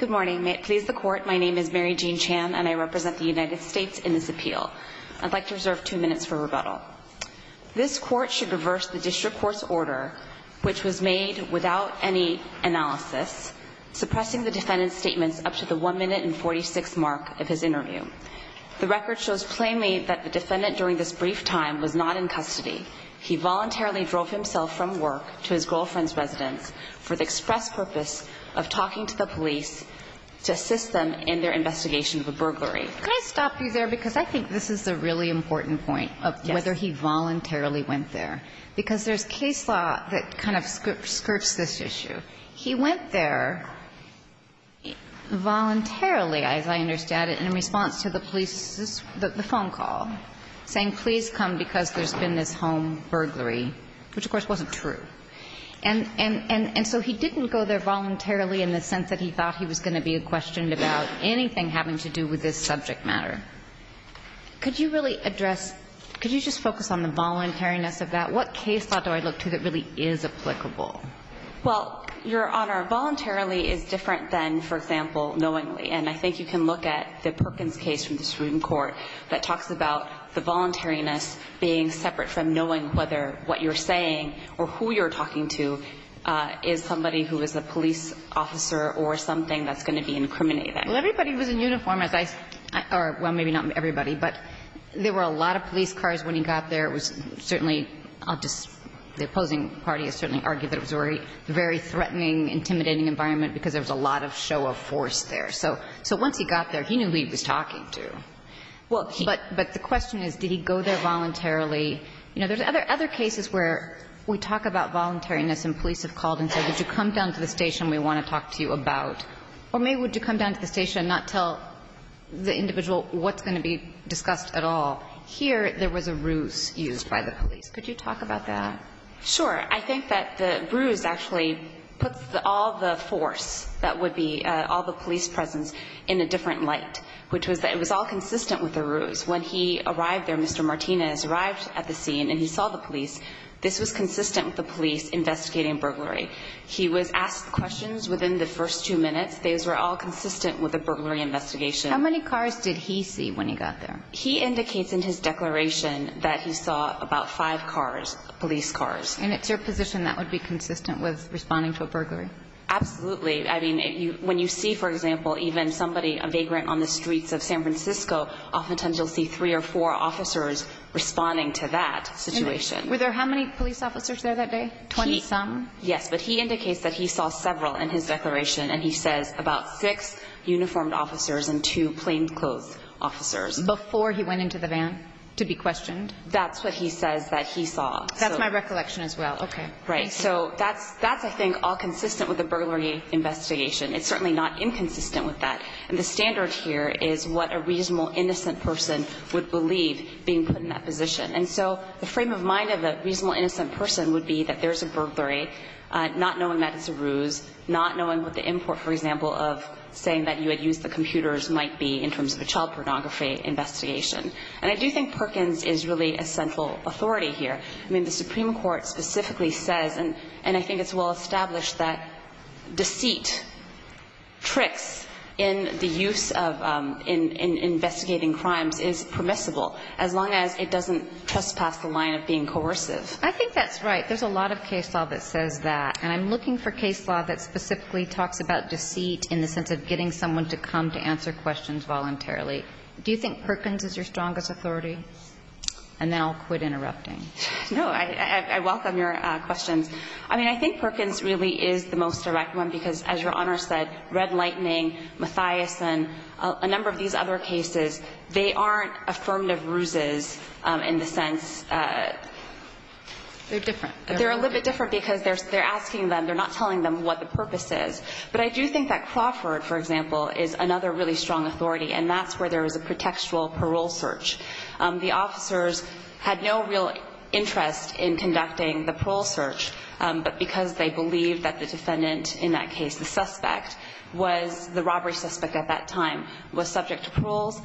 Good morning. May it please the court, my name is Mary Jean Chan and I represent the United States in this appeal. I'd like to reserve two minutes for rebuttal. This court should reverse the district court's order, which was made without any analysis, suppressing the defendant's statements up to the 1 minute and 46 mark of his interview. The record shows plainly that the defendant during this brief time was not in custody. He voluntarily drove himself from work to the police to assist them in their investigation of a burglary. Could I stop you there, because I think this is a really important point of whether he voluntarily went there. Because there's case law that kind of skirts this issue. He went there voluntarily, as I understand it, in response to the police's phone call, saying please come because there's been this home burglary, which of course is not true. He didn't go there voluntarily in the sense that he thought he was going to be questioned about anything having to do with this subject matter. Could you really address, could you just focus on the voluntariness of that? What case law do I look to that really is applicable? Well, Your Honor, voluntarily is different than, for example, knowingly. And I think you can look at the Perkins case from the student court that talks about the voluntariness being separate from knowing whether what you're saying or who you're talking to is a police officer or something that's going to be incriminating. Well, everybody was in uniform, as I said, or well, maybe not everybody, but there were a lot of police cars when he got there. It was certainly, I'll just, the opposing party has certainly argued that it was a very threatening, intimidating environment because there was a lot of show of force there. So once he got there, he knew who he was talking to. But the question is, did he go there voluntarily? You know, there's other cases where we talk about voluntariness and police have called and said, would you come down to the station, we want to talk to you about, or maybe would you come down to the station and not tell the individual what's going to be discussed at all. Here, there was a ruse used by the police. Could you talk about that? Sure. I think that the ruse actually puts all the force that would be all the police presence in a different light, which was that it was all consistent with the ruse. When he arrived there, Mr. Martinez arrived at the scene and he saw the police. This was consistent with the police investigating burglary. He was asked questions within the first two minutes. Those were all consistent with the burglary investigation. How many cars did he see when he got there? He indicates in his declaration that he saw about five cars, police cars. And it's your position that would be consistent with responding to a burglary? Absolutely. I mean, when you see, for example, even somebody, a vagrant on the streets of San Francisco, oftentimes you'll see three or four officers responding to that situation. Were there how many police officers there that day? Twenty-some? Yes. But he indicates that he saw several in his declaration. And he says about six uniformed officers and two plainclothes officers. Before he went into the van to be questioned? That's what he says that he saw. That's my recollection as well. Okay. Right. So that's, I think, all consistent with the burglary investigation. It's certainly not inconsistent with that. And the standard here is what a reasonable innocent person would believe being put in that position. And so the frame of mind of a reasonable innocent person would be that there's a burglary, not knowing that it's a ruse, not knowing what the import, for example, of saying that you had used the computers might be in terms of a child pornography investigation. And I do think Perkins is really a central authority here. I mean, the Supreme Court specifically says, and I think it's well established that deceit, tricks in the use of investigating crimes is permissible as long as it doesn't trespass the line of being coercive. I think that's right. There's a lot of case law that says that. And I'm looking for case law that specifically talks about deceit in the sense of getting someone to come to answer questions voluntarily. Do you think Perkins is your strongest authority? And then I'll quit interrupting. No, I welcome your questions. I mean, I think Perkins really is the most direct one because, as Your Honor said, Red Lightning, Mathiasson, a number of these other cases, they aren't affirmative ruses in the sense... They're different. They're a little bit different because they're asking them, they're not telling them what the purpose is. But I do think that Crawford, for example, is another really strong authority. And that's where there was a pretextual parole search. The officers had no real interest in conducting the parole search, but because they believed that the defendant in that case, the suspect, was the robbery suspect at that time, was subject to paroles,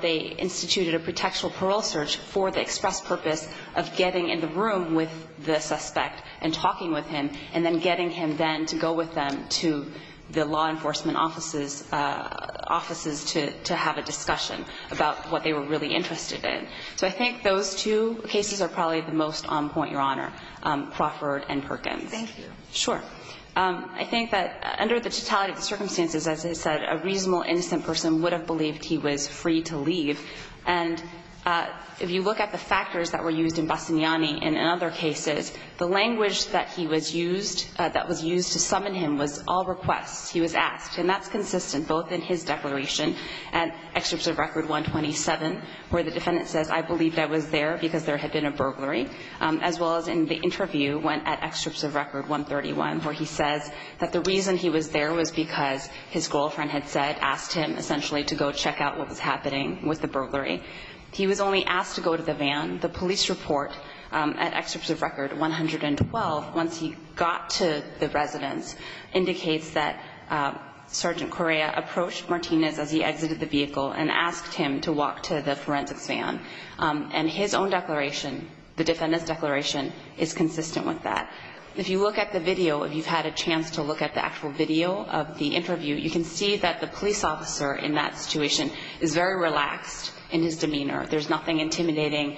they instituted a pretextual parole search for the express purpose of getting in the room with the suspect and talking with him, and then getting him then to go with them to the law enforcement offices to have a discussion about what they were really interested in. So I think those two cases are probably the most on point, Your Honor, Crawford and Perkins. Thank you. Sure. I think that under the totality of the circumstances, as I said, a reasonable, innocent person would have believed he was free to leave. And if you look at the factors that were used in Bassagnani and in other cases, the language that he was used, that was used to summon him, was all requests. He was asked. And that's consistent both in his declaration at Extrips of Record 127, where the defendant says, I believed I was there because there had been a where he says that the reason he was there was because his girlfriend had said, asked him essentially to go check out what was happening with the burglary. He was only asked to go to the van. The police report at Extrips of Record 112, once he got to the residence, indicates that Sergeant Correa approached Martinez as he exited the vehicle and asked him to walk to the forensics van. And his own declaration, the defendant's declaration, is consistent. If you look at the video, if you've had a chance to look at the actual video of the interview, you can see that the police officer in that situation is very relaxed in his demeanor. There's nothing intimidating.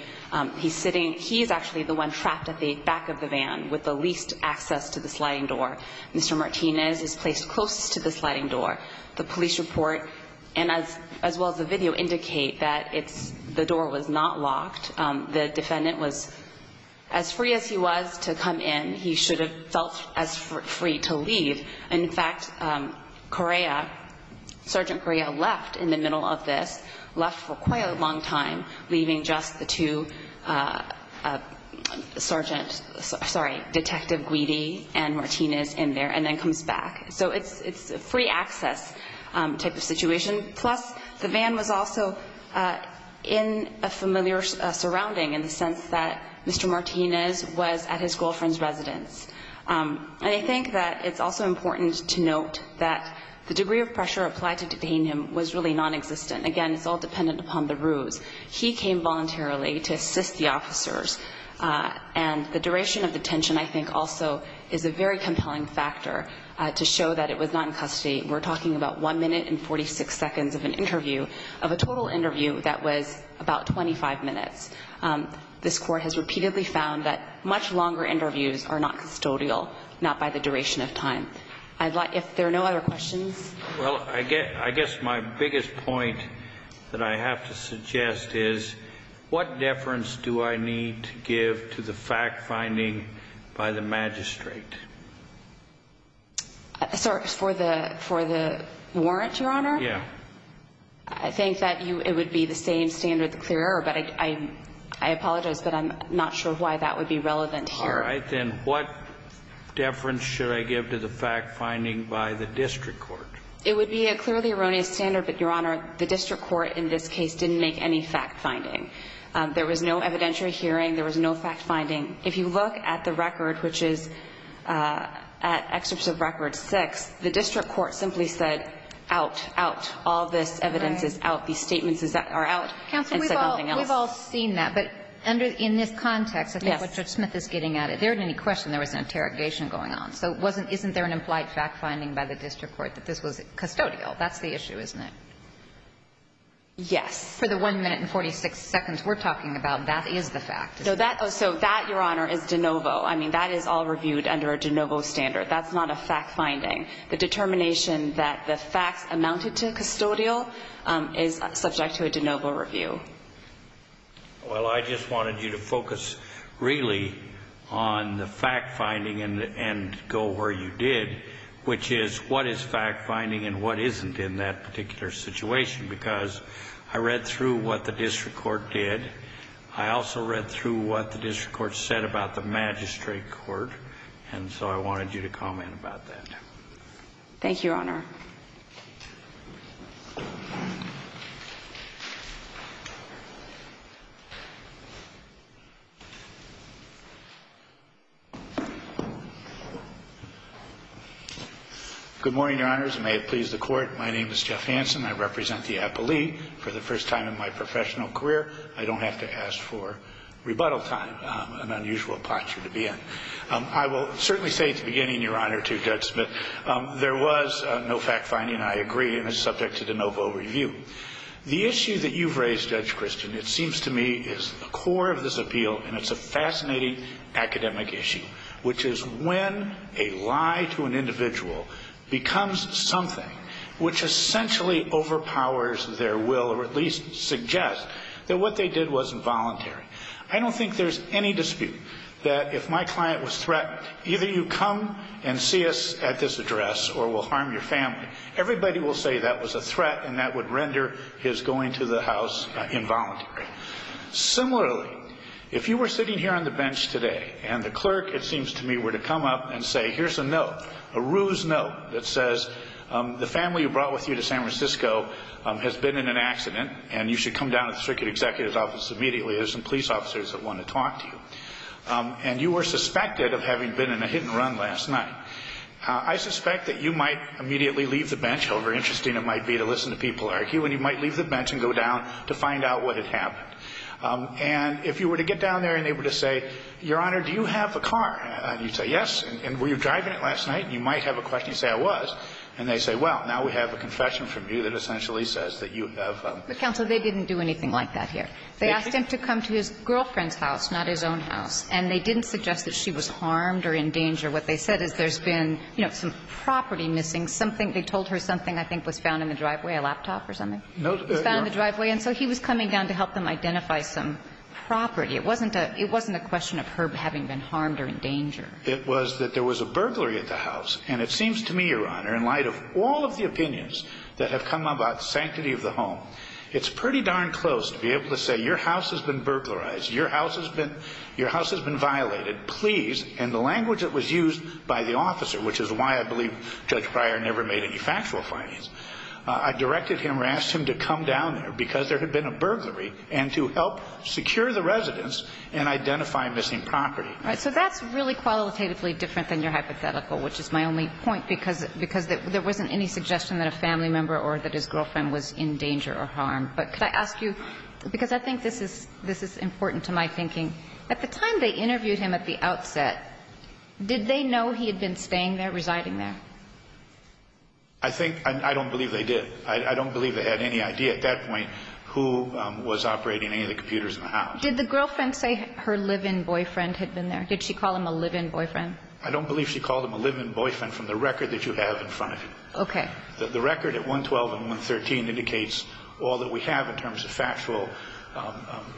He's sitting. He's actually the one trapped at the back of the van with the least access to the sliding door. Mr. Martinez is placed closest to the sliding door. The police report and as well as the video indicate that it's the door was not locked. The defendant was as free as he was to come in. He should have felt as free to leave. In fact, Correa, Sergeant Correa left in the middle of this, left for quite a long time, leaving just the two Sergeant, sorry, Detective Greedy and Martinez in there and then comes back. So it's it's a free access type of situation. Plus, the van was also in a familiar surrounding in the sense that Mr. Martinez was at his girlfriend's residence. I think that it's also important to note that the degree of pressure applied to detain him was really non-existent. Again, it's all dependent upon the rules. He came voluntarily to assist the officers. And the duration of the detention, I think, also is a very compelling factor to show that it was not in custody. We're talking about one minute and 46 seconds of an interview of a total interview that was about 25 minutes. This court has repeatedly found that much longer interviews are not custodial, not by the duration of time. I'd like if there are no other questions. Well, I guess I guess my biggest point that I have to suggest is what deference do I need to give to the fact finding by the magistrate? Sorry for the for the warrant, Your Honor. Yeah, I think that it would be the same standard, the clear error, but I apologize, but I'm not sure why that would be relevant here. All right, then what deference should I give to the fact finding by the district court? It would be a clearly erroneous standard, but Your Honor, the district court in this case didn't make any fact finding. There was no evidentiary hearing. There was no fact finding. If you look at the record, which is at excerpts of record six, the district court simply said, out, out, all this evidence is out. These statements are out. Counsel, we've all seen that, but under in this context, I think what Judge Smith is getting at it, there isn't any question there was an interrogation going on. So wasn't isn't there an implied fact finding by the district court that this was custodial? That's the issue, isn't it? Yes. For the 1 minute and 46 seconds we're talking about, that is the fact. So that so that, Your Honor, is de novo. I mean, that is all reviewed under a de novo standard. That's not a fact finding. The determination that the facts amounted to custodial is subject to a de novo review. Well, I just wanted you to focus really on the fact finding and and go where you did, which is what is fact finding and what isn't in that particular situation? Because I read through what the district court did. I also read through what the district court said about the magistrate court. And so I wanted you to comment about that. Thank you, Your Honor. Good morning, Your Honors. May it please the court. My name is Jeff Hanson. I represent the appellee for the first time in my professional career. I don't have to ask for rebuttal time, an unusual posture to be in. I will certainly say at the beginning, Your Honor, to Judge Smith, there was no fact finding. I agree, and it's subject to de novo review. The issue that you've raised, Judge Christian, it seems to me is the core of this appeal, and it's a fascinating academic issue, which is when a lie to an individual becomes something which essentially overpowers their will or at least suggests that what they did was involuntary. I don't think there's any dispute that if my client was threatened, either you come and see us at this address or we'll harm your family, everybody will say that was a threat and that would render his going to the house involuntary. Similarly, if you were sitting here on the bench today and the clerk, it seems to me, were to come up and say, here's a note, a ruse note that says the family who brought with you to San Francisco has been in an accident and you should come down to the circuit executive's office immediately. There's some police officers that want to talk to you. And you were suspected of having been in a hit and run last night. I suspect that you might immediately leave the bench, however interesting it might be to listen to people argue, and you might leave the bench and go down to find out what had happened. And if you were to get down there and they were to say, Your Honor, do you have a car? And you say, yes. And were you driving it last night? And you might have a question. You say, I was. And they say, well, now we have a confession from you that essentially says that you have a car. But, counsel, they didn't do anything like that here. They asked him to come to his girlfriend's house, not his own house. And they didn't suggest that she was harmed or in danger. What they said is there's been, you know, some property missing, something. They told her something I think was found in the driveway, a laptop or something. No. It was found in the driveway. And so he was coming down to help them identify some property. It wasn't a question of her having been harmed or in danger. It was that there was a burglary at the house. And it seems to me, Your Honor, in light of all of the opinions that have come about the sanctity of the home, it's pretty darn close to be able to say your house has been burglarized, your house has been violated, please, in the language that was used by the officer, which is why I believe Judge Pryor never made any factual findings. I directed him or asked him to come down there because there had been a burglary and to help secure the residence and identify missing property. Right. So that's really qualitatively different than your hypothetical, which is my only point, because there wasn't any suggestion that a family member or that his girlfriend was in danger or harmed. But could I ask you, because I think this is important to my thinking, at the time they interviewed him at the outset, did they know he had been staying there, residing there? I think I don't believe they did. I don't believe they had any idea at that point who was operating any of the computers in the house. Did the girlfriend say her live-in boyfriend had been there? Did she call him a live-in boyfriend? I don't believe she called him a live-in boyfriend from the record that you have in front of you. OK. The record at 112 and 113 indicates all that we have in terms of factual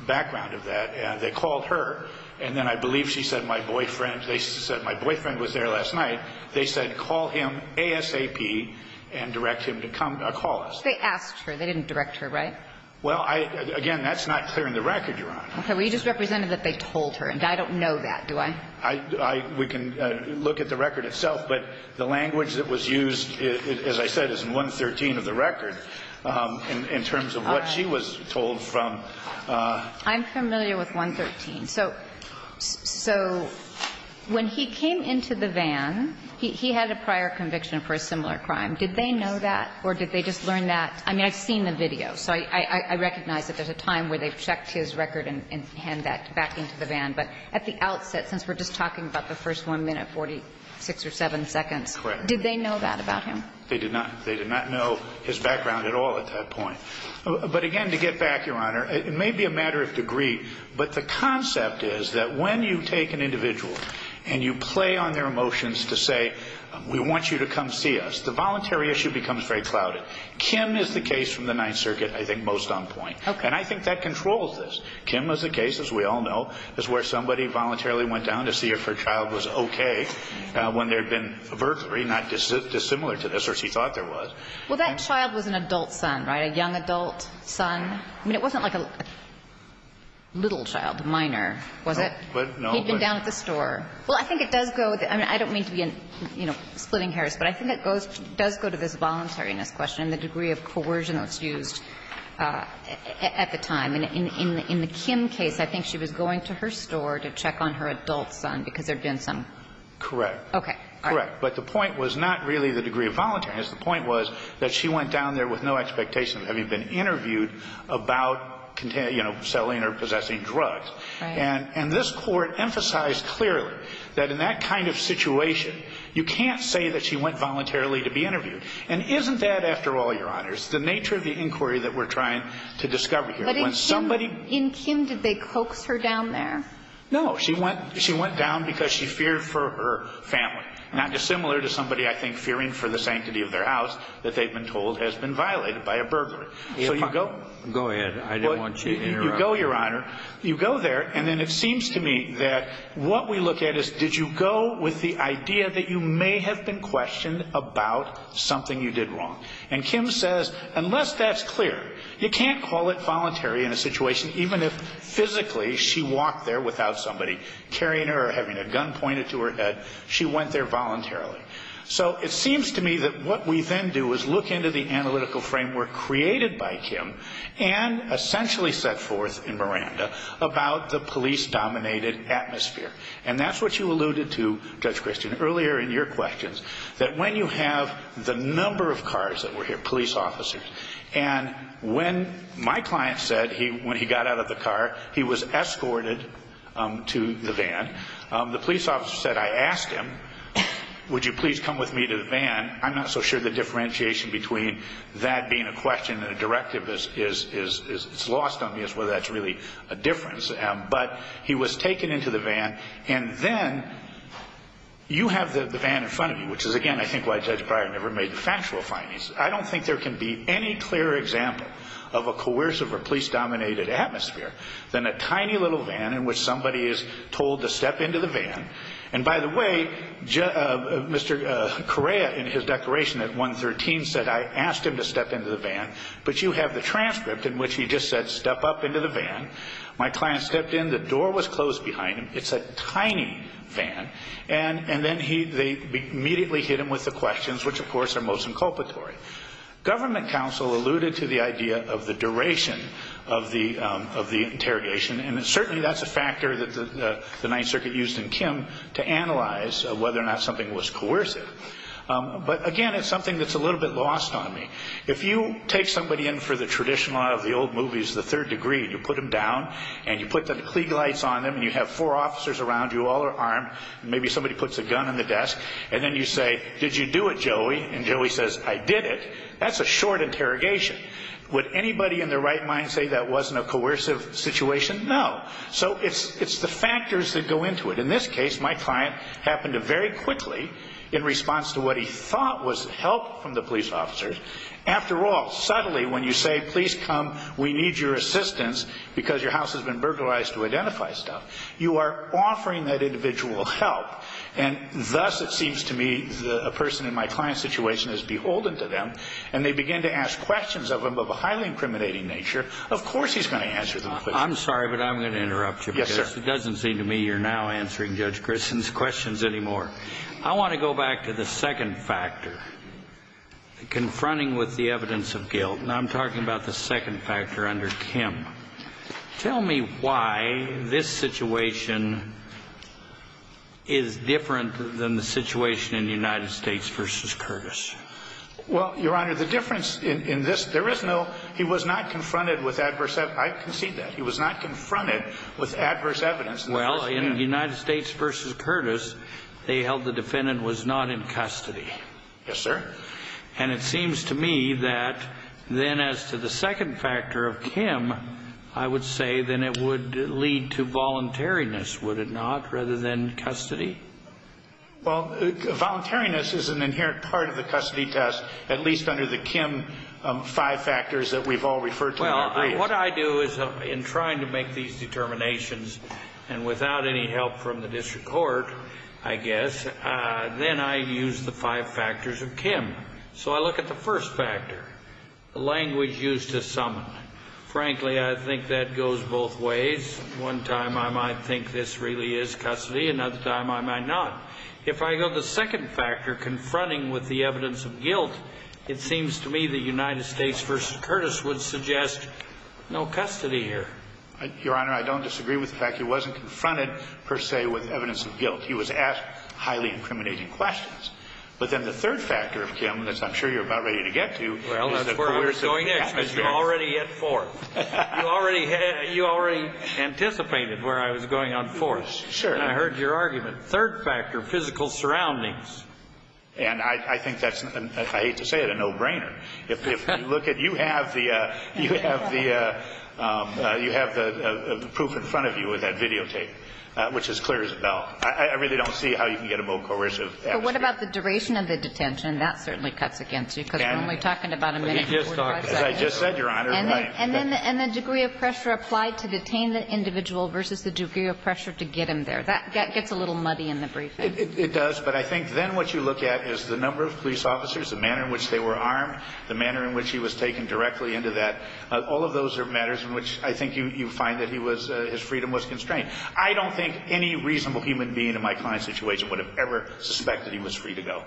background of that. And they called her, and then I believe she said my boyfriend they said my boyfriend was there last night. They said call him ASAP and direct him to come call us. They asked her. They didn't direct her, right? Well, I again, that's not clear in the record, Your Honor. OK. Well, you just represented that they told her. And I don't know that, do I? I we can look at the record itself. But the language that was used, as I said, is in 113 of the record, in terms of what she was told from I'm familiar with 113. So when he came into the van, he had a prior conviction for a similar crime. Did they know that? Or did they just learn that? I mean, I've seen the video. So I recognize that there's a time where they've checked his record and hand that back into the van. But at the outset, since we're just talking about the first 1 minute, 46 or 7 seconds. Correct. Did they know that about him? They did not. They did not know his background at all at that point. But again, to get back, Your Honor, it may be a matter of degree. But the concept is that when you take an individual and you play on their emotions to say, we want you to come see us, the voluntary issue becomes very clouded. Kim is the case from the Ninth Circuit, I think, most on point. And I think that controls this. Kim is the case, as we all know, is where somebody voluntarily went down to see if her child was OK when there had been a burglary, not dissimilar to this or she thought there was. Well, that child was an adult son, right? A young adult son. I mean, it wasn't like a little child, minor, was it? But no. He'd been down at the store. Well, I think it does go. I mean, I don't mean to be, you know, splitting hairs, but I think it goes does go to this voluntariness question and the degree of coercion that's used at the time. In the Kim case, I think she was going to her store to check on her adult son because there had been some. Correct. OK. Correct. But the point was not really the degree of voluntariness. The point was that she went down there with no expectation of having been interviewed about, you know, selling or possessing drugs. And this Court emphasized clearly that in that kind of situation, you can't say that she went voluntarily to be interviewed. And isn't that, after all, Your Honors, the nature of the inquiry that we're trying to discover here? But in somebody in Kim, did they coax her down there? No, she went. She went down because she feared for her family, not dissimilar to somebody, I think, fearing for the sanctity of their house that they've been told has been violated by a burglary. So you go. Go ahead. I don't want you to go, Your Honor. You go there. And then it seems to me that what we look at is, did you go with the idea that you may have been questioned about something you did wrong? And Kim says, unless that's clear, you can't call it voluntary in a situation even if physically she walked there without somebody carrying her or having a gun pointed to her head. She went there voluntarily. So it seems to me that what we then do is look into the analytical framework created by Kim and essentially set forth in Miranda about the police-dominated atmosphere. And that's what you alluded to, Judge Christian, earlier in your questions, that when you have the number of cars that were here, police officers, and when my client said he when he got out of the car, he was escorted to the van. The police officer said, I asked him, would you please come with me to the van? I'm not so sure the differentiation between that being a question and a directive is it's lost on me as whether that's really a difference. But he was taken into the van. And then you have the van in front of you, which is, again, I think why Judge Breyer never made the factual findings. I don't think there can be any clearer example of a coercive or police-dominated atmosphere than a tiny little van in which somebody is told to step into the van. And by the way, Mr. Correa in his declaration at 113 said, I asked him to step into the van. But you have the transcript in which he just said, step up into the van. My client stepped in. The door was closed behind him. It's a tiny van. And then they immediately hit him with the questions, which, of course, are most inculpatory. Government counsel alluded to the idea of the duration of the interrogation. And certainly that's a factor that the Ninth Circuit used in Kim to analyze whether or not something was coercive. But again, it's something that's a little bit lost on me. If you take somebody in for the traditional out of the old movies, the third degree, you put them down and you put the klieg lights on them and you have four officers around you, all are armed. Maybe somebody puts a gun on the desk and then you say, did you do it, Joey? And Joey says, I did it. That's a short interrogation. Would anybody in their right mind say that wasn't a coercive situation? No. So it's the factors that go into it. In this case, my client happened to very quickly, in response to what he thought was help from the police officers. After all, subtly, when you say, please come, we need your assistance because your house has been burglarized to identify stuff, you are offering that individual help. And thus, it seems to me, a person in my client's situation is beholden to them and they begin to ask questions of them of a highly incriminating nature. Of course, he's going to answer them. I'm sorry, but I'm going to interrupt you. Yes, sir. It doesn't seem to me you're now answering Judge Grissom's questions anymore. I want to go back to the second factor, confronting with the evidence of guilt. And I'm talking about the second factor under Kim. Tell me why this situation is different than the situation in the United States versus Curtis. Well, Your Honor, the difference in this, there is no, he was not confronted with adverse. I concede that he was not confronted with adverse evidence. Well, in the United States versus Curtis, they held the defendant was not in custody. Yes, sir. And it seems to me that then as to the second factor of Kim, I would say then it would lead to voluntariness, would it not, rather than custody? Well, voluntariness is an inherent part of the custody test, at least under the Kim five factors that we've all referred to. What I do is in trying to make these determinations and without any help from the district court, I guess, then I use the five factors of Kim. So I look at the first factor, the language used to summon. Frankly, I think that goes both ways. One time I might think this really is custody. Another time I might not. If I go to the second factor, confronting with the evidence of guilt, it seems to me the United States versus Curtis would suggest no custody here. Your Honor, I don't disagree with the fact he wasn't confronted per se with evidence of guilt. He was asked highly incriminating questions. But then the third factor of Kim, that's I'm sure you're about ready to get to. Well, that's where I was going next, because you're already at fourth. You already anticipated where I was going on fourth. Sure. And I heard your argument. Third factor, physical surroundings. And I think that's, I hate to say it, a no-brainer. If you look at, you have the proof in front of you with that videotape, which is clear as a bell. I really don't see how you can get a more coercive answer. But what about the duration of the detention? That certainly cuts against you, because we're only talking about a minute and 45 seconds. As I just said, Your Honor. And then the degree of pressure applied to detain the individual versus the degree of pressure to get him there. That gets a little muddy in the briefing. It does. But I think then what you look at is the number of police officers, the manner in which they were armed, the manner in which he was taken directly into that. All of those are matters in which I think you find that he was, his freedom was constrained. I don't think any reasonable human being in my client's situation would have ever suspected he was free to go.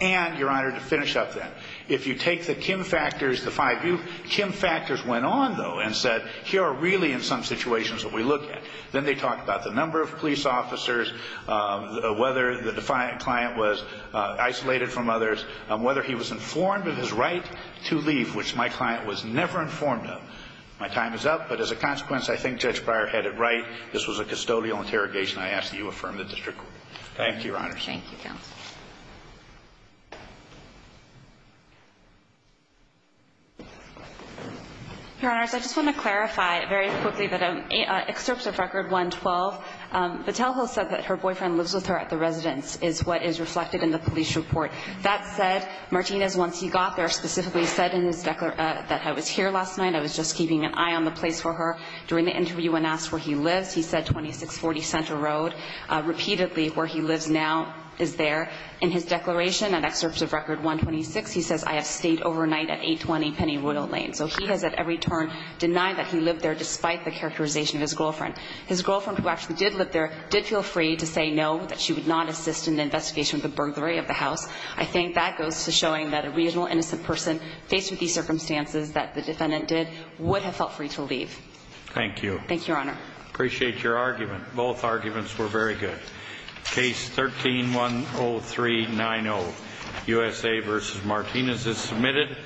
And, Your Honor, to finish up then, if you take the Kim factors, the five view, Kim factors went on, though, and said, here are really, in some situations, what we look at. Then they talk about the number of police officers, whether the client was isolated from others, whether he was informed of his right to leave, which my client was never informed of. My time is up. But as a consequence, I think Judge Breyer had it right. This was a custodial interrogation. I ask that you affirm the district court. Thank you, Your Honor. Thank you, counsel. Your Honors, I just want to clarify very quickly that an excerpt of Record 112, Vitello said that her boyfriend lives with her at the residence, is what is reflected in the police report. That said, Martinez, once he got there, specifically said in his declaration that I was here last night. I was just keeping an eye on the place for her. During the interview, when asked where he lives, he said 2640 Center Road, repeatedly where he lives now is there. In his declaration, an excerpt of Record 126, he says, I have stayed overnight at 820 Penny Royal Lane. So he has at every turn denied that he lived there, despite the characterization of his girlfriend. His girlfriend, who actually did live there, did feel free to say no, that she would not assist in the investigation of the burglary of the house. I think that goes to showing that a reasonable, innocent person faced with these circumstances that the defendant did would have felt free to leave. Thank you. Thank you, Your Honor. Appreciate your argument. Both arguments were very good. Case 13-10390, USA versus Martinez is submitted.